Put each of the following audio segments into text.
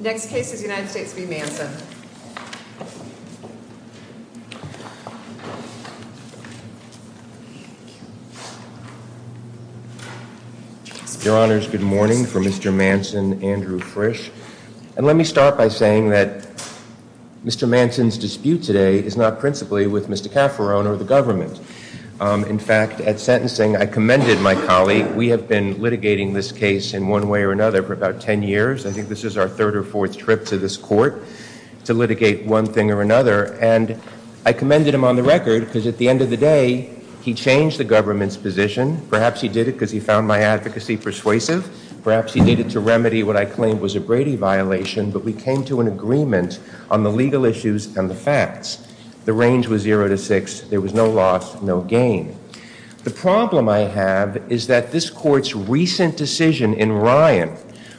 Next case is the United States v. Manson. Your Honors, good morning. For Mr. Manson, Andrew Frisch. And let me start by saying that Mr. Manson's dispute today is not principally with Mr. Cafferone or the government. In fact, at sentencing, I commended my colleague. We have been litigating this case in one way or another for about ten years. I think this is our third or fourth trip to this court to litigate one thing or another. And I commended him on the record because at the end of the day, he changed the government's position. Perhaps he did it because he found my advocacy persuasive. Perhaps he did it to remedy what I claimed was a Brady violation. But we came to an agreement on the legal issues and the facts. The range was zero to six. There was no loss, no gain. The problem I have is that this court's recent decision in Ryan,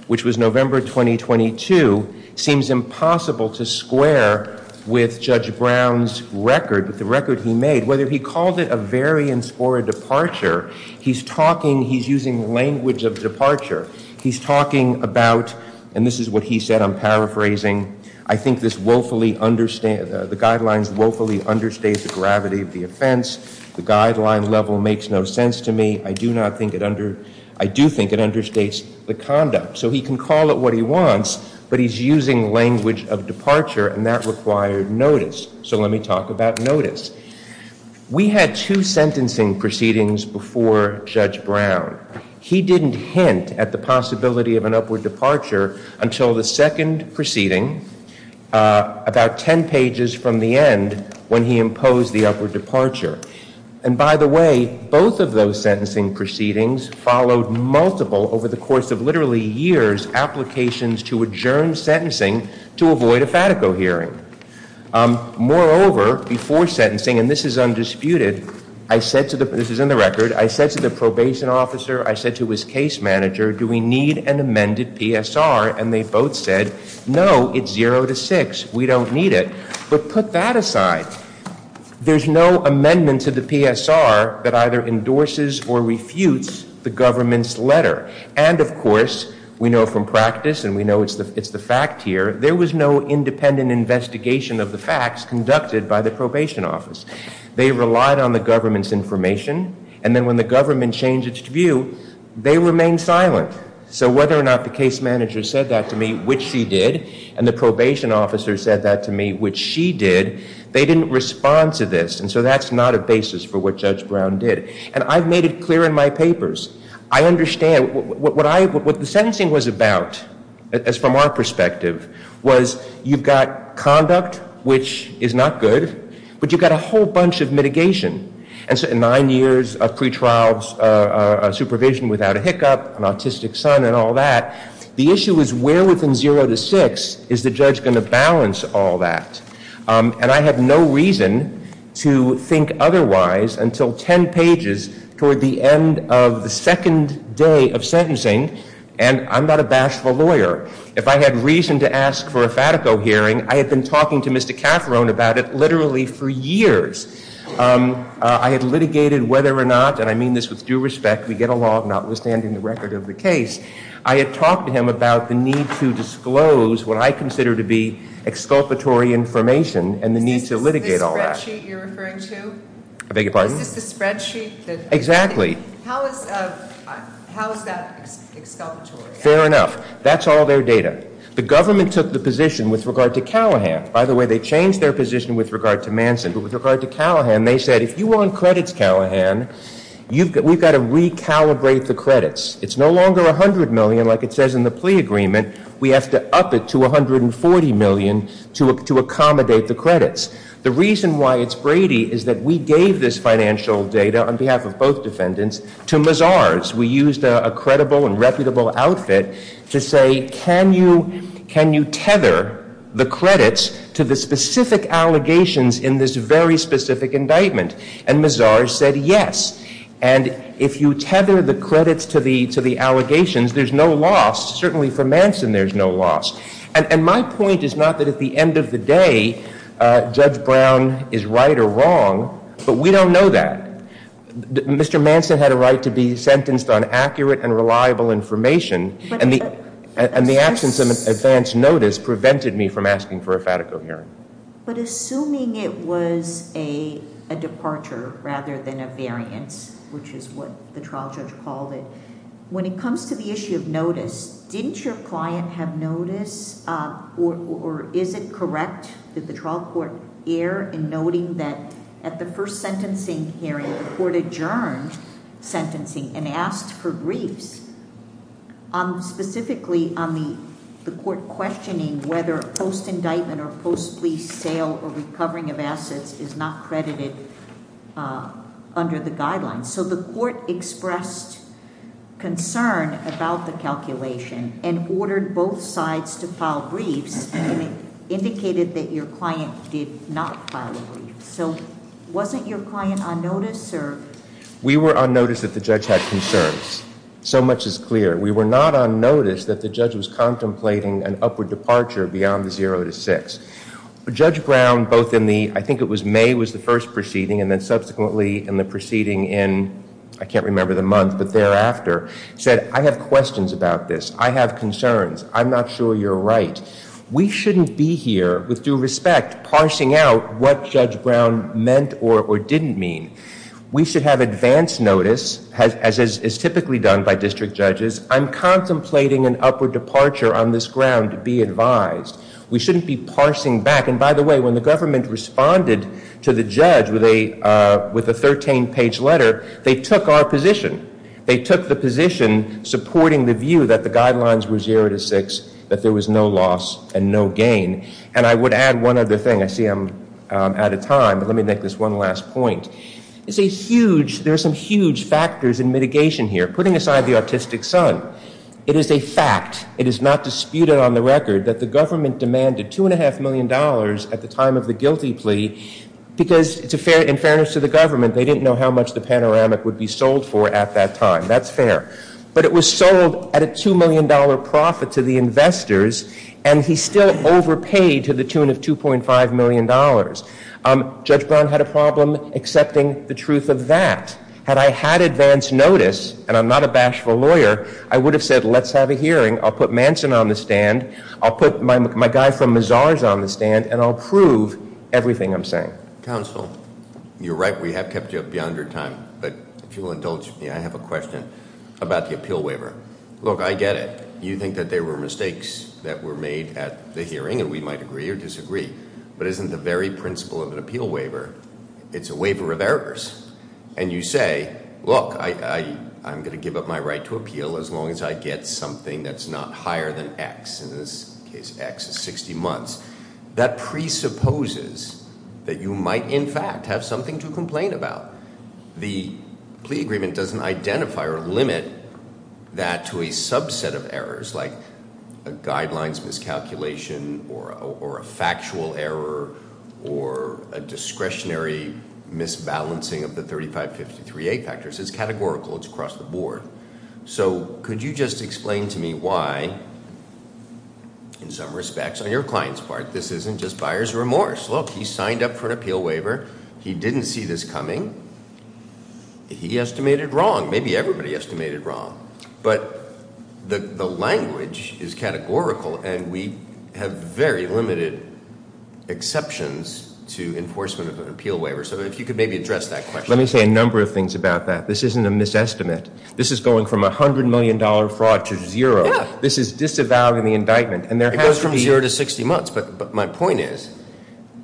which was November 2022, seems impossible to square with Judge Brown's record, with the record he made. Whether he called it a variance or a departure, he's talking, he's using language of departure. He's talking about, and this is what he said, I'm paraphrasing, I think the guidelines woefully understate the gravity of the offense. The guideline level makes no sense to me. I do think it understates the conduct. So he can call it what he wants, but he's using language of departure, and that required notice. So let me talk about notice. We had two sentencing proceedings before Judge Brown. He didn't hint at the possibility of an upward departure until the second proceeding, about 10 pages from the end, when he imposed the upward departure. And by the way, both of those sentencing proceedings followed multiple, over the course of literally years, applications to adjourn sentencing to avoid a Fatico hearing. Moreover, before sentencing, and this is undisputed, I said to the, this is in the record, I said to the probation officer, I said to his case manager, do we need an amended PSR? And they both said, no, it's zero to six. We don't need it. But put that aside. There's no amendment to the PSR that either endorses or refutes the government's letter. And of course, we know from practice, and we know it's the fact here, there was no independent investigation of the facts conducted by the probation office. They relied on the government's information. And then when the government changed its view, they remained silent. So whether or not the case manager said that to me, which she did, and the probation officer said that to me, which she did, they didn't respond to this. And so that's not a basis for what Judge Brown did. And I've made it clear in my papers. I understand what I, what the sentencing was about, as from our perspective, was you've got conduct, which is not good, but you've got a whole bunch of mitigation. And so nine years of pretrials, supervision without a hiccup, an autistic son, and all that, the issue is where within zero to six is the judge going to balance all that? And I have no reason to think otherwise until 10 pages toward the end of the second day of sentencing. And I'm not a bashful lawyer. If I had reason to ask for a Fatico hearing, I had been talking to Mr. Cafferon about it literally for years. I had litigated whether or not, and I mean this with due respect. We get along, notwithstanding the record of the case. I had talked to him about the need to disclose what I consider to be exculpatory information and the need to litigate all that. Is this the spreadsheet you're referring to? I beg your pardon? Is this the spreadsheet? Exactly. How is that exculpatory? Fair enough. That's all their data. The government took the position with regard to Callahan. By the way, they changed their position with regard to Manson. But with regard to Callahan, they said if you want credits Callahan, we've got to recalibrate the credits. It's no longer $100 million like it says in the plea agreement. We have to up it to $140 million to accommodate the credits. The reason why it's Brady is that we gave this financial data on behalf of both defendants to Mazars. We used a credible and reputable outfit to say can you tether the credits to the specific allegations in this very specific indictment? And Mazars said yes. And if you tether the credits to the allegations, there's no loss. Certainly for Manson, there's no loss. And my point is not that at the end of the day Judge Brown is right or wrong, but we don't know that. Mr. Manson had a right to be sentenced on accurate and reliable information, and the absence of advance notice prevented me from asking for a FATICO hearing. But assuming it was a departure rather than a variance, which is what the trial judge called it, when it comes to the issue of notice, didn't your client have notice or is it correct that the trial court err in noting that at the first sentencing hearing the court adjourned sentencing and asked for briefs, specifically on the court questioning whether post-indictment or post-lease sale or recovering of assets is not credited under the guidelines. So the court expressed concern about the calculation and ordered both sides to file briefs, and it indicated that your client did not file a brief. So wasn't your client on notice or? We were on notice that the judge had concerns. So much is clear. We were not on notice that the judge was contemplating an upward departure beyond the 0 to 6. Judge Brown, both in the, I think it was May was the first proceeding, and then subsequently in the proceeding in, I can't remember the month, but thereafter, said, I have questions about this. I have concerns. I'm not sure you're right. We shouldn't be here, with due respect, parsing out what Judge Brown meant or didn't mean. We should have advance notice, as is typically done by district judges. I'm contemplating an upward departure on this ground. Be advised. We shouldn't be parsing back. And by the way, when the government responded to the judge with a 13-page letter, they took our position. They took the position supporting the view that the guidelines were 0 to 6, that there was no loss and no gain. And I would add one other thing. I see I'm out of time, but let me make this one last point. It's a huge, there are some huge factors in mitigation here. Putting aside the autistic son, it is a fact, it is not disputed on the record, that the government demanded $2.5 million at the time of the guilty plea, because in fairness to the government, they didn't know how much the panoramic would be sold for at that time. That's fair. But it was sold at a $2 million profit to the investors, and he still overpaid to the tune of $2.5 million. Judge Brown had a problem accepting the truth of that. Had I had advance notice, and I'm not a bashful lawyer, I would have said, let's have a hearing. I'll put Manson on the stand. I'll put my guy from Mazar's on the stand, and I'll prove everything I'm saying. Counsel, you're right, we have kept you up beyond your time. But if you'll indulge me, I have a question about the appeal waiver. Look, I get it. You think that there were mistakes that were made at the hearing, and we might agree or disagree. But isn't the very principle of an appeal waiver, it's a waiver of errors. And you say, look, I'm going to give up my right to appeal as long as I get something that's not higher than X. In this case, X is 60 months. That presupposes that you might, in fact, have something to complain about. The plea agreement doesn't identify or limit that to a subset of errors like a guidelines miscalculation or a factual error or a discretionary misbalancing of the 3553A factors. It's categorical. It's across the board. So could you just explain to me why, in some respects, on your client's part, this isn't just buyer's remorse. Look, he signed up for an appeal waiver. He didn't see this coming. He estimated wrong. Maybe everybody estimated wrong. But the language is categorical, and we have very limited exceptions to enforcement of an appeal waiver. So if you could maybe address that question. Let me say a number of things about that. This isn't a misestimate. This is going from $100 million fraud to zero. This is disavowing the indictment. And there has to be- It goes from zero to 60 months. But my point is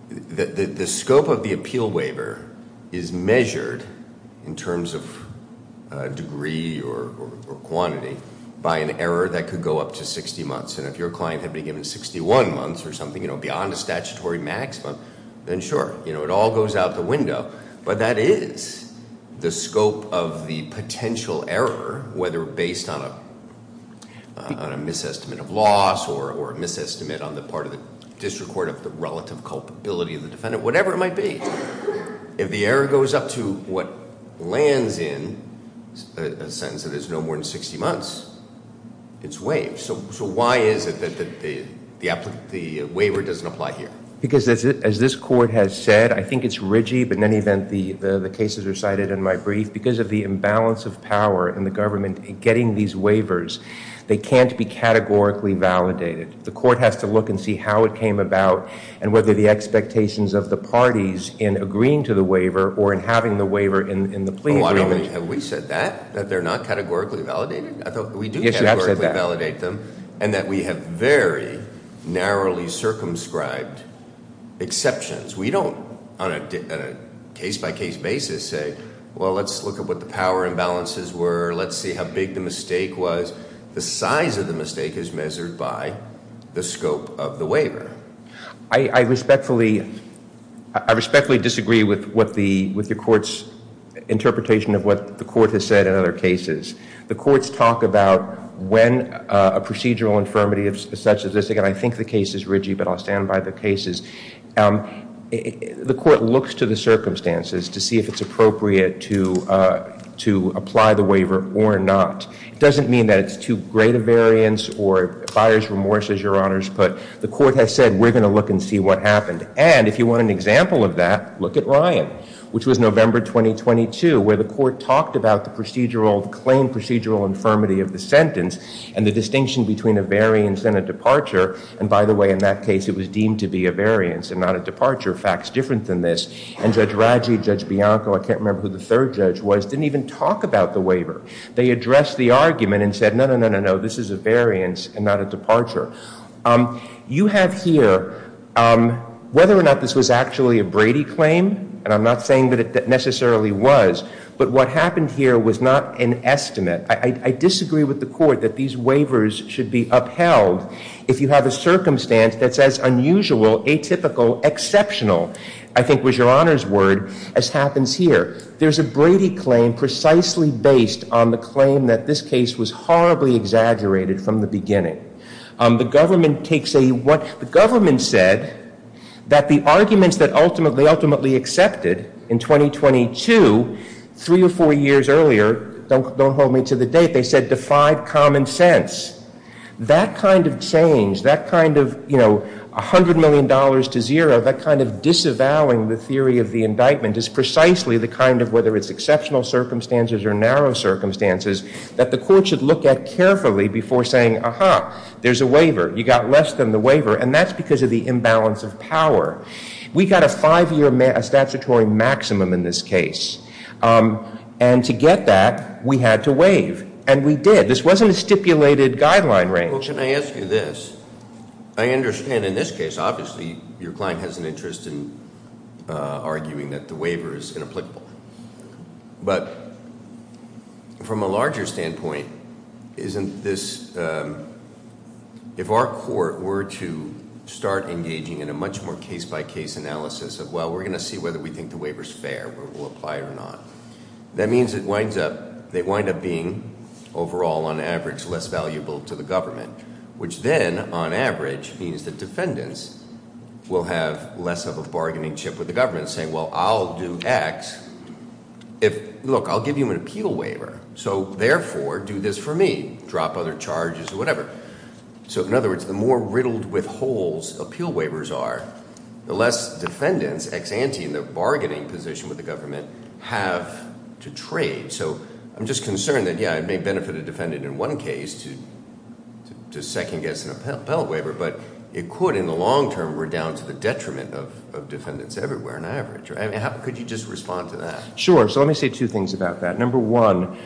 the scope of the appeal waiver is measured in terms of degree or quantity by an error that could go up to 60 months. And if your client had been given 61 months or something, you know, beyond a statutory maximum, then sure, it all goes out the window. But that is the scope of the potential error, whether based on a misestimate of loss or a misestimate on the part of the district court of the relative culpability of the defendant, whatever it might be. If the error goes up to what lands in a sentence that is no more than 60 months, it's waived. So why is it that the waiver doesn't apply here? Because as this court has said, I think it's ridgy, but in any event, the cases are cited in my brief. Because of the imbalance of power in the government in getting these waivers, they can't be categorically validated. The court has to look and see how it came about and whether the expectations of the parties in agreeing to the waiver or in having the waiver in the plea agreement- Have we said that, that they're not categorically validated? Yes, you have said that. And that we have very narrowly circumscribed exceptions. We don't, on a case-by-case basis, say, well, let's look at what the power imbalances were, let's see how big the mistake was. The size of the mistake is measured by the scope of the waiver. I respectfully disagree with the court's interpretation of what the court has said in other cases. The courts talk about when a procedural infirmity is such as this. Again, I think the case is ridgy, but I'll stand by the cases. The court looks to the circumstances to see if it's appropriate to apply the waiver or not. It doesn't mean that it's too great a variance or buyer's remorse, as your honors put. The court has said, we're going to look and see what happened. And if you want an example of that, look at Ryan, which was November 2022, where the court talked about the claim procedural infirmity of the sentence and the distinction between a variance and a departure. And by the way, in that case, it was deemed to be a variance and not a departure. Fact's different than this. And Judge Raggi, Judge Bianco, I can't remember who the third judge was, didn't even talk about the waiver. They addressed the argument and said, no, no, no, no, no, this is a variance and not a departure. You have here, whether or not this was actually a Brady claim, and I'm not saying that it necessarily was, but what happened here was not an estimate. I disagree with the court that these waivers should be upheld if you have a circumstance that's as unusual, atypical, exceptional, I think was your honors word, as happens here. There's a Brady claim precisely based on the claim that this case was horribly exaggerated from the beginning. The government said that the arguments that they ultimately accepted in 2022, three or four years earlier, don't hold me to the date, they said defied common sense. That kind of change, that kind of $100 million to zero, that kind of disavowing the theory of the indictment is precisely the kind of, whether it's exceptional circumstances or narrow circumstances, that the court should look at carefully before saying, aha, there's a waiver. You got less than the waiver, and that's because of the imbalance of power. We got a five-year statutory maximum in this case, and to get that, we had to waive. And we did. This wasn't a stipulated guideline range. Well, can I ask you this? I understand in this case, obviously, your client has an interest in arguing that the waiver is inapplicable. But from a larger standpoint, isn't this, if our court were to start engaging in a much more case-by-case analysis of, well, we're going to see whether we think the waiver's fair, whether we'll apply it or not, that means it winds up, they wind up being overall, on average, less valuable to the government, which then, on average, means that defendants will have less of a bargaining chip with the government, saying, well, I'll do X. Look, I'll give you an appeal waiver, so, therefore, do this for me. Drop other charges or whatever. So, in other words, the more riddled with holes appeal waivers are, the less defendants, ex ante in their bargaining position with the government, have to trade. So I'm just concerned that, yeah, it may benefit a defendant in one case to second-guess an appellate waiver, but it could, in the long term, we're down to the detriment of defendants everywhere, on average. Could you just respond to that? Sure. So let me say two things about that. Number one,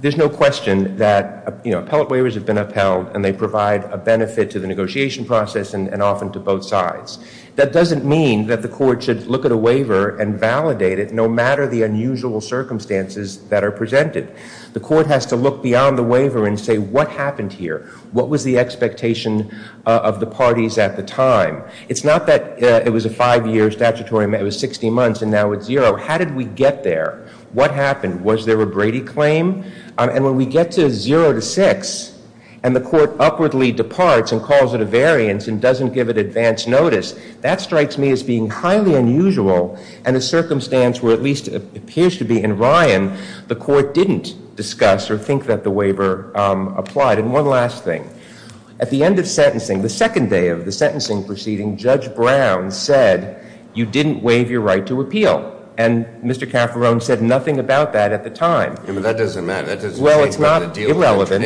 there's no question that appellate waivers have been upheld, and they provide a benefit to the negotiation process and often to both sides. That doesn't mean that the court should look at a waiver and validate it, no matter the unusual circumstances that are presented. The court has to look beyond the waiver and say, what happened here? What was the expectation of the parties at the time? It's not that it was a five-year statutory, it was 60 months, and now it's zero. How did we get there? What happened? Was there a Brady claim? And when we get to zero to six, and the court upwardly departs and calls it a variance and doesn't give it advance notice, that strikes me as being highly unusual, and a circumstance where, at least it appears to be in Ryan, the court didn't discuss or think that the waiver applied. And one last thing. At the end of sentencing, the second day of the sentencing proceeding, Judge Brown said you didn't waive your right to appeal, and Mr. Cafferone said nothing about that at the time. That doesn't matter. Well, it's not irrelevant.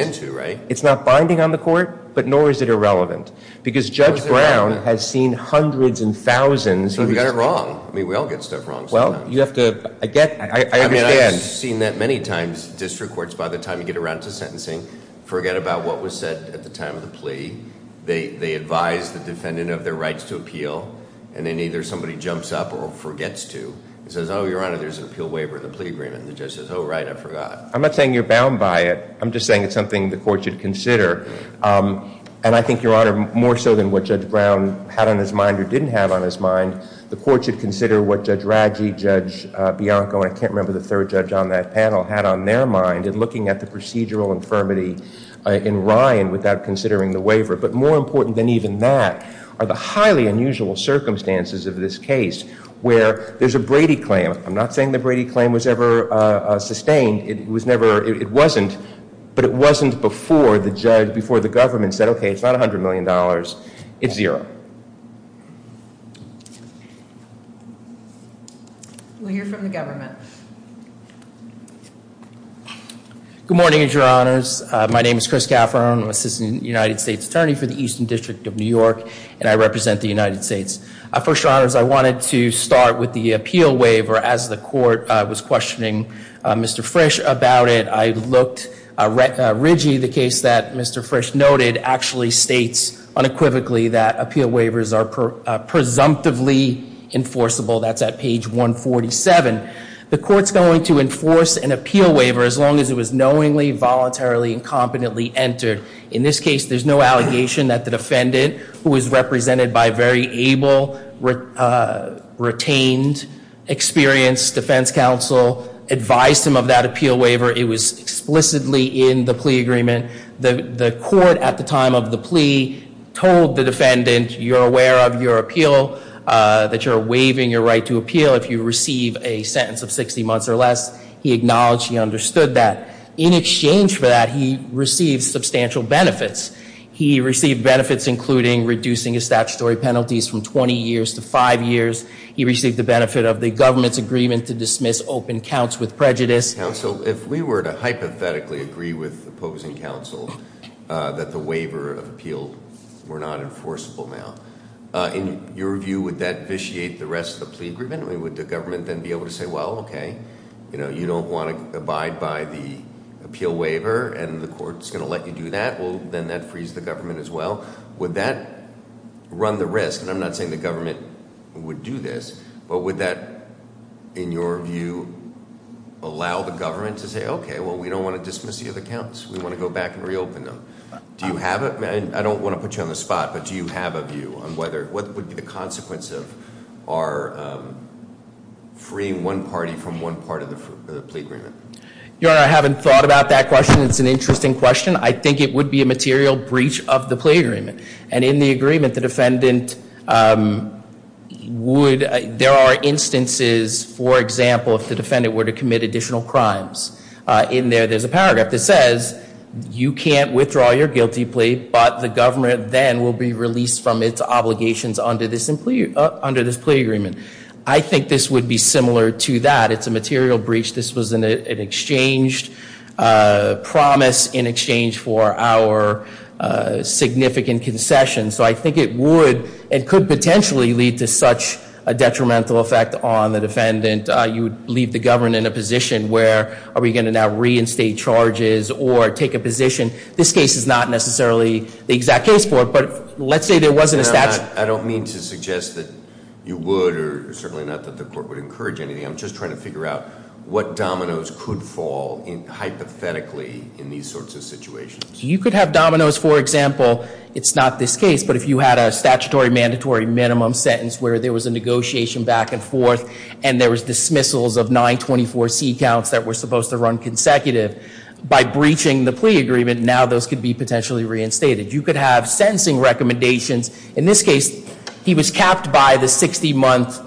It's not binding on the court, but nor is it irrelevant, because Judge Brown has seen hundreds and thousands. So we got it wrong. I mean, we all get stuff wrong sometimes. Well, you have to, I get, I understand. I mean, I've seen that many times, district courts, by the time you get around to sentencing, forget about what was said at the time of the plea. They advise the defendant of their rights to appeal, and then either somebody jumps up or forgets to and says, oh, Your Honor, there's an appeal waiver in the plea agreement, and the judge says, oh, right, I forgot. I'm not saying you're bound by it. I'm just saying it's something the court should consider, and I think, Your Honor, more so than what Judge Brown had on his mind or didn't have on his mind, the court should consider what Judge Raggi, Judge Bianco, and I can't remember the third judge on that panel, had on their mind in looking at the procedural infirmity in Ryan without considering the waiver. But more important than even that are the highly unusual circumstances of this case where there's a Brady claim. I'm not saying the Brady claim was ever sustained. It was never, it wasn't, but it wasn't before the judge, before the government said, okay, it's not $100 million. It's zero. Thank you. We'll hear from the government. Good morning, Your Honors. My name is Chris Cafferan. I'm Assistant United States Attorney for the Eastern District of New York, and I represent the United States. First, Your Honors, I wanted to start with the appeal waiver. As the court was questioning Mr. Frisch about it, I looked. Rigi, the case that Mr. Frisch noted, actually states unequivocally that appeal waivers are presumptively enforceable. That's at page 147. The court's going to enforce an appeal waiver as long as it was knowingly, voluntarily, and competently entered. In this case, there's no allegation that the defendant, who was represented by a very able, retained, experienced defense counsel, advised him of that appeal waiver. It was explicitly in the plea agreement. The court at the time of the plea told the defendant, you're aware of your appeal, that you're waiving your right to appeal if you receive a sentence of 60 months or less. He acknowledged he understood that. In exchange for that, he received substantial benefits. He received benefits including reducing his statutory penalties from 20 years to five years. He received the benefit of the government's agreement to dismiss open counts with prejudice. Counsel, if we were to hypothetically agree with opposing counsel that the waiver of appeal were not enforceable now, in your view, would that vitiate the rest of the plea agreement? I mean, would the government then be able to say, well, okay, you know, you don't want to abide by the appeal waiver and the court's going to let you do that? Well, then that frees the government as well. Would that run the risk? And I'm not saying the government would do this, but would that, in your view, allow the government to say, okay, well, we don't want to dismiss the other counts. We want to go back and reopen them. Do you have a, I don't want to put you on the spot, but do you have a view on whether, what would be the consequence of our freeing one party from one part of the plea agreement? Your Honor, I haven't thought about that question. It's an interesting question. I think it would be a material breach of the plea agreement. And in the agreement, the defendant would, there are instances, for example, if the defendant were to commit additional crimes. In there, there's a paragraph that says, you can't withdraw your guilty plea, but the government then will be released from its obligations under this plea agreement. I think this would be similar to that. It's a material breach. This was an exchange promise in exchange for our significant concession. So I think it would and could potentially lead to such a detrimental effect on the defendant. You would leave the government in a position where are we going to now reinstate charges or take a position? This case is not necessarily the exact case for it, but let's say there wasn't a statute. Your Honor, I don't mean to suggest that you would or certainly not that the court would encourage anything. I'm just trying to figure out what dominoes could fall hypothetically in these sorts of situations. You could have dominoes, for example, it's not this case, but if you had a statutory mandatory minimum sentence where there was a negotiation back and forth and there was dismissals of 924C counts that were supposed to run consecutive, by breaching the plea agreement, now those could be potentially reinstated. You could have sentencing recommendations. In this case, he was capped by the 60-month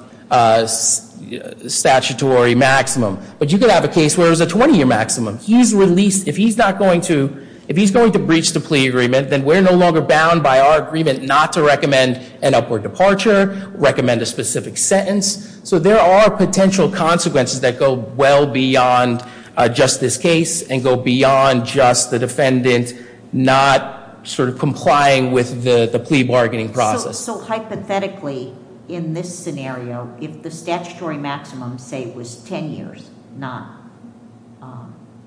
statutory maximum. But you could have a case where it was a 20-year maximum. He's released, if he's not going to, if he's going to breach the plea agreement, then we're no longer bound by our agreement not to recommend an upward departure, recommend a specific sentence. So there are potential consequences that go well beyond just this case and go beyond just the defendant not sort of complying with the plea bargaining process. So hypothetically, in this scenario, if the statutory maximum, say, was 10 years, not,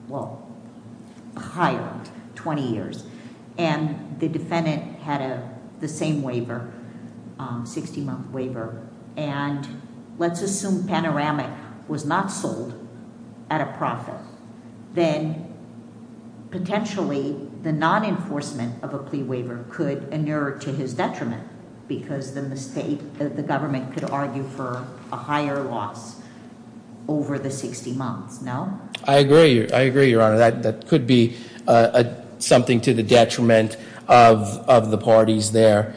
well, higher, 20 years, and the defendant had the same waiver, 60-month waiver, and let's assume Panoramic was not sold at a profit, then potentially the non-enforcement of a plea waiver could inure to his detriment because the government could argue for a higher loss over the 60 months, no? I agree, Your Honor. That could be something to the detriment of the parties there.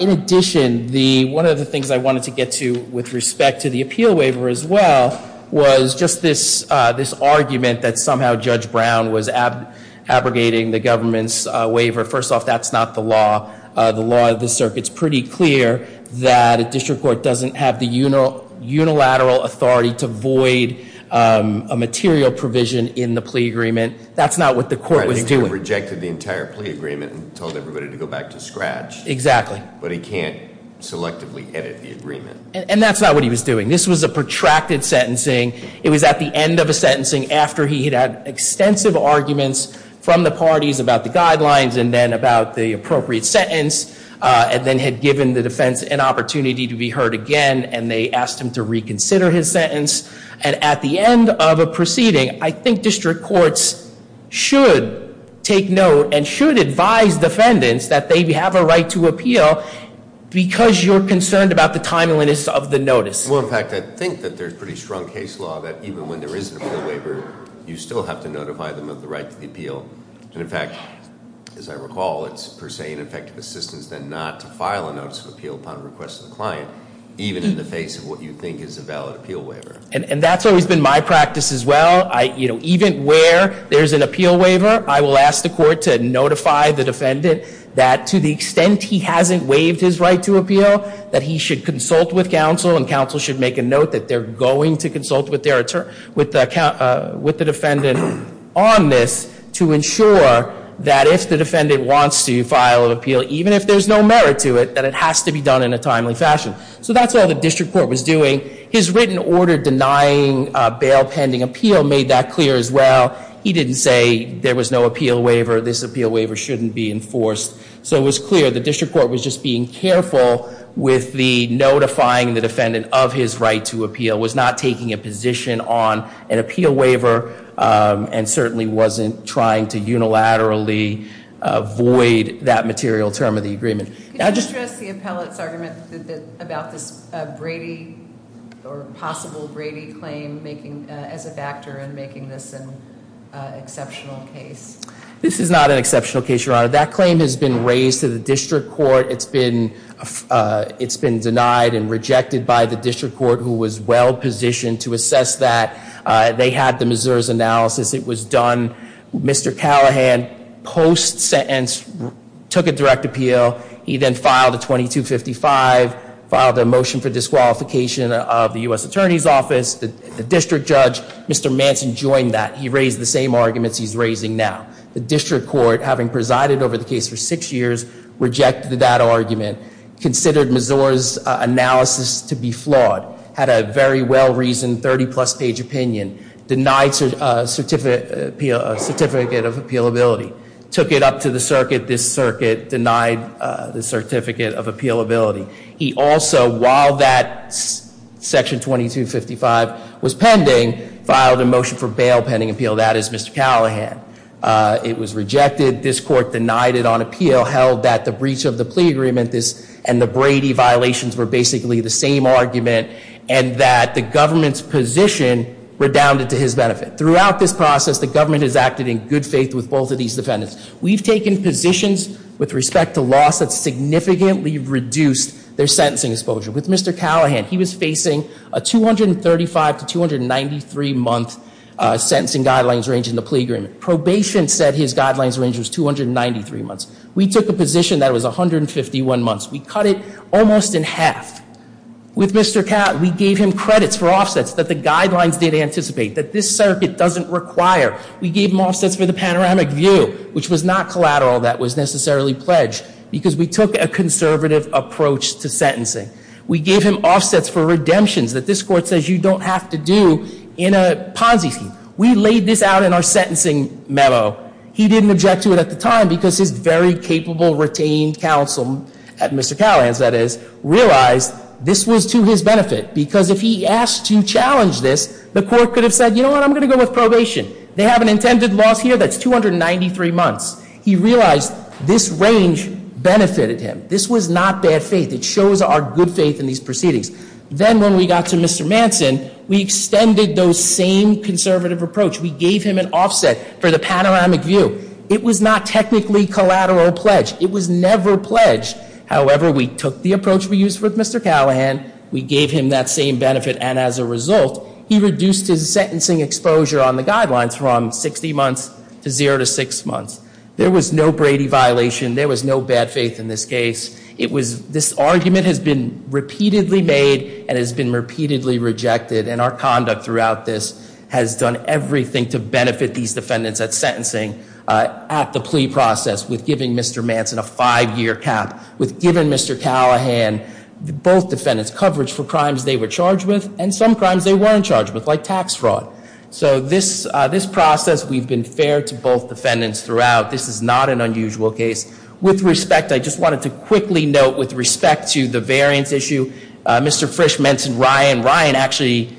In addition, one of the things I wanted to get to with respect to the appeal waiver as well was just this argument that somehow Judge Brown was abrogating the government's waiver. First off, that's not the law. The law of the circuit is pretty clear that a district court doesn't have the unilateral authority to void a material provision in the plea agreement. That's not what the court was doing. He rejected the entire plea agreement and told everybody to go back to scratch. Exactly. But he can't selectively edit the agreement. And that's not what he was doing. This was a protracted sentencing. It was at the end of a sentencing after he had had extensive arguments from the parties about the guidelines and then about the appropriate sentence and then had given the defense an opportunity to be heard again, and they asked him to reconsider his sentence. And at the end of a proceeding, I think district courts should take note and should advise defendants that they have a right to appeal because you're concerned about the timeliness of the notice. Well, in fact, I think that there's pretty strong case law that even when there is an appeal waiver, you still have to notify them of the right to the appeal. And in fact, as I recall, it's per se an effective assistance then not to file a notice of appeal upon request of the client even in the face of what you think is a valid appeal waiver. And that's always been my practice as well. Even where there's an appeal waiver, I will ask the court to notify the defendant that to the extent he hasn't waived his right to appeal, that he should consult with counsel and counsel should make a note that they're going to consult with the defendant on this to ensure that if the defendant wants to file an appeal, even if there's no merit to it, that it has to be done in a timely fashion. So that's all the district court was doing. His written order denying bail pending appeal made that clear as well. He didn't say there was no appeal waiver, this appeal waiver shouldn't be enforced. So it was clear the district court was just being careful with the notifying the defendant of his right to appeal, was not taking a position on an appeal waiver and certainly wasn't trying to unilaterally void that material term of the agreement. Could you stress the appellate's argument about this Brady or possible Brady claim as a factor in making this an exceptional case? This is not an exceptional case, Your Honor. That claim has been raised to the district court. It's been denied and rejected by the district court who was well positioned to assess that. They had the Mazur's analysis. It was done. Mr. Callahan, post-sentence, took a direct appeal. He then filed a 2255, filed a motion for disqualification of the U.S. Attorney's Office. The district judge, Mr. Manson, joined that. He raised the same arguments he's raising now. The district court, having presided over the case for six years, rejected that argument, considered Mazur's analysis to be flawed, had a very well-reasoned 30-plus page opinion, denied a certificate of appealability, took it up to the circuit. This circuit denied the certificate of appealability. He also, while that section 2255 was pending, filed a motion for bail pending appeal. That is Mr. Callahan. It was rejected. This court denied it on appeal, held that the breach of the plea agreement and the Brady violations were basically the same argument, and that the government's position redounded to his benefit. Throughout this process, the government has acted in good faith with both of these defendants. We've taken positions with respect to loss that significantly reduced their sentencing exposure. With Mr. Callahan, he was facing a 235 to 293-month sentencing guidelines range in the plea agreement. Probation said his guidelines range was 293 months. We took a position that it was 151 months. We cut it almost in half. With Mr. Catt, we gave him credits for offsets that the guidelines did anticipate, that this circuit doesn't require. We gave him offsets for the panoramic view, which was not collateral that was necessarily pledged, because we took a conservative approach to sentencing. We gave him offsets for redemptions that this court says you don't have to do in a Ponzi scheme. We laid this out in our sentencing memo. He didn't object to it at the time because his very capable retained counsel, Mr. Callahan, that is, realized this was to his benefit, because if he asked to challenge this, the court could have said, you know what, I'm going to go with probation. They have an intended loss here that's 293 months. He realized this range benefited him. This was not bad faith. It shows our good faith in these proceedings. Then when we got to Mr. Manson, we extended those same conservative approach. We gave him an offset for the panoramic view. It was not technically collateral pledge. It was never pledged. However, we took the approach we used with Mr. Callahan, we gave him that same benefit, and as a result, he reduced his sentencing exposure on the guidelines from 60 months to zero to six months. There was no Brady violation. There was no bad faith in this case. It was this argument has been repeatedly made and has been repeatedly rejected, and our conduct throughout this has done everything to benefit these defendants at sentencing, at the plea process, with giving Mr. Manson a five-year cap, with giving Mr. Callahan both defendants coverage for crimes they were charged with and some crimes they weren't charged with, like tax fraud. So this process, we've been fair to both defendants throughout. This is not an unusual case. With respect, I just wanted to quickly note, with respect to the variance issue, Mr. Frisch mentioned Ryan. Ryan actually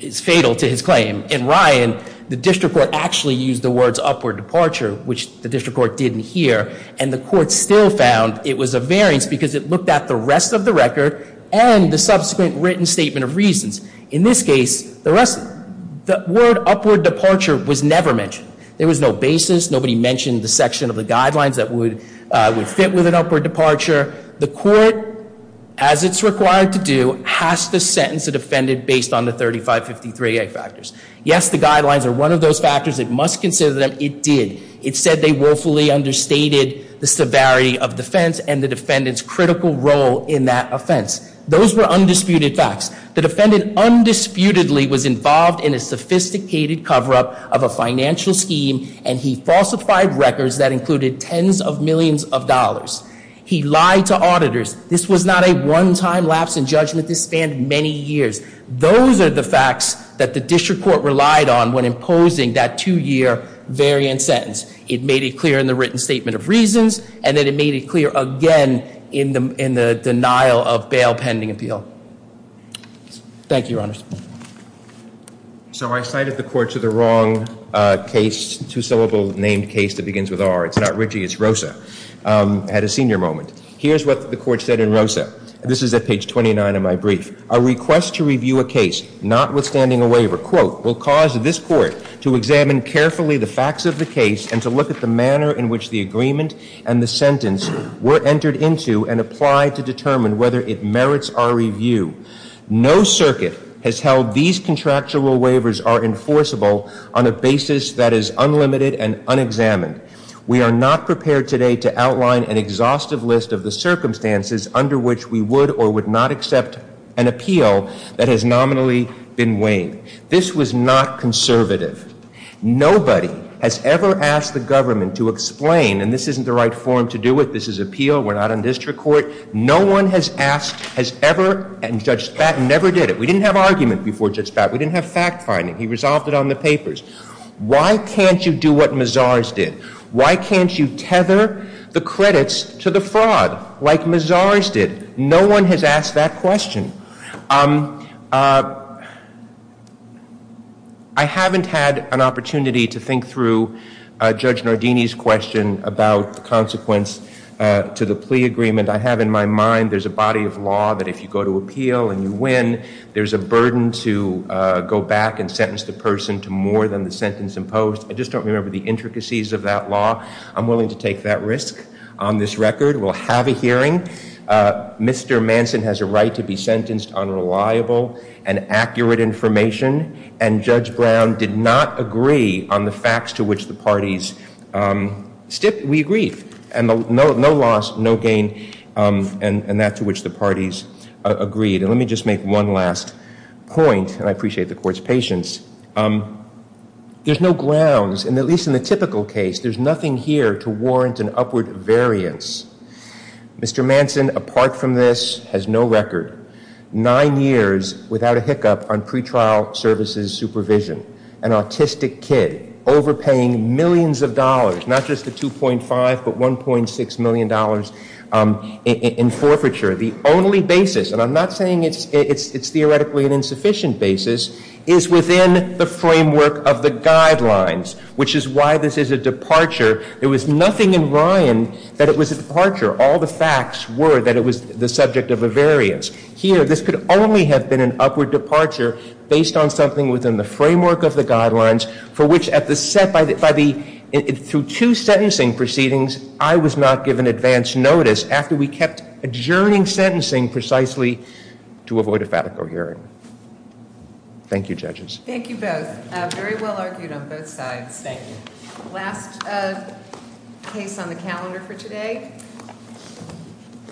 is fatal to his claim. In Ryan, the district court actually used the words upward departure, which the district court didn't hear, and the court still found it was a variance because it looked at the rest of the record and the subsequent written statement of reasons. In this case, the word upward departure was never mentioned. There was no basis. Nobody mentioned the section of the guidelines that would fit with an upward departure. The court, as it's required to do, has to sentence a defendant based on the 3553A factors. Yes, the guidelines are one of those factors. It must consider them. It did. It said they woefully understated the severity of defense and the defendant's critical role in that offense. Those were undisputed facts. The defendant undisputedly was involved in a sophisticated cover-up of a financial scheme, and he falsified records that included tens of millions of dollars. He lied to auditors. This was not a one-time lapse in judgment. This spanned many years. Those are the facts that the district court relied on when imposing that two-year variance sentence. It made it clear in the written statement of reasons, and then it made it clear again in the denial of bail pending appeal. Thank you, Your Honors. So I cited the court to the wrong case, two-syllable named case that begins with R. It's not Ritchie. It's Rosa at a senior moment. Here's what the court said in Rosa. This is at page 29 of my brief. A request to review a case notwithstanding a waiver, quote, will cause this court to examine carefully the facts of the case and to look at the manner in which the agreement and the sentence were entered into and applied to determine whether it merits our review. No circuit has held these contractual waivers are enforceable on a basis that is unlimited and unexamined. We are not prepared today to outline an exhaustive list of the circumstances under which we would or would not accept an appeal that has nominally been waived. This was not conservative. Nobody has ever asked the government to explain, and this isn't the right forum to do it. This is appeal. We're not on district court. No one has asked, has ever, and Judge Spatton never did it. We didn't have argument before Judge Spatton. We didn't have fact-finding. He resolved it on the papers. Why can't you do what Mazars did? Why can't you tether the credits to the fraud like Mazars did? No one has asked that question. I haven't had an opportunity to think through Judge Nardini's question about the consequence to the plea agreement. I have in my mind there's a body of law that if you go to appeal and you win, there's a burden to go back and sentence the person to more than the sentence imposed. I just don't remember the intricacies of that law. I'm willing to take that risk on this record. We'll have a hearing. Mr. Manson has a right to be sentenced on reliable and accurate information, and Judge Brown did not agree on the facts to which the parties stipped. We agreed, and no loss, no gain, and that to which the parties agreed. And let me just make one last point, and I appreciate the Court's patience. There's no grounds, and at least in the typical case, there's nothing here to warrant an upward variance. Mr. Manson, apart from this, has no record. Nine years without a hiccup on pretrial services supervision. An autistic kid overpaying millions of dollars, not just the $2.5 million, but $1.6 million in forfeiture. The only basis, and I'm not saying it's theoretically an insufficient basis, is within the framework of the guidelines, which is why this is a departure. There was nothing in Ryan that it was a departure. All the facts were that it was the subject of a variance. Here, this could only have been an upward departure based on something within the framework of the guidelines, for which, through two sentencing proceedings, I was not given advance notice after we kept adjourning sentencing precisely to avoid a fatigue hearing. Thank you, judges. Thank you both. Very well argued on both sides. Thank you. Last case on the calendar for today.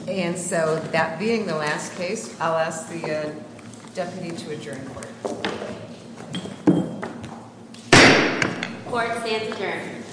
And so that being the last case, I'll ask the deputy to adjourn court. Court stands adjourned.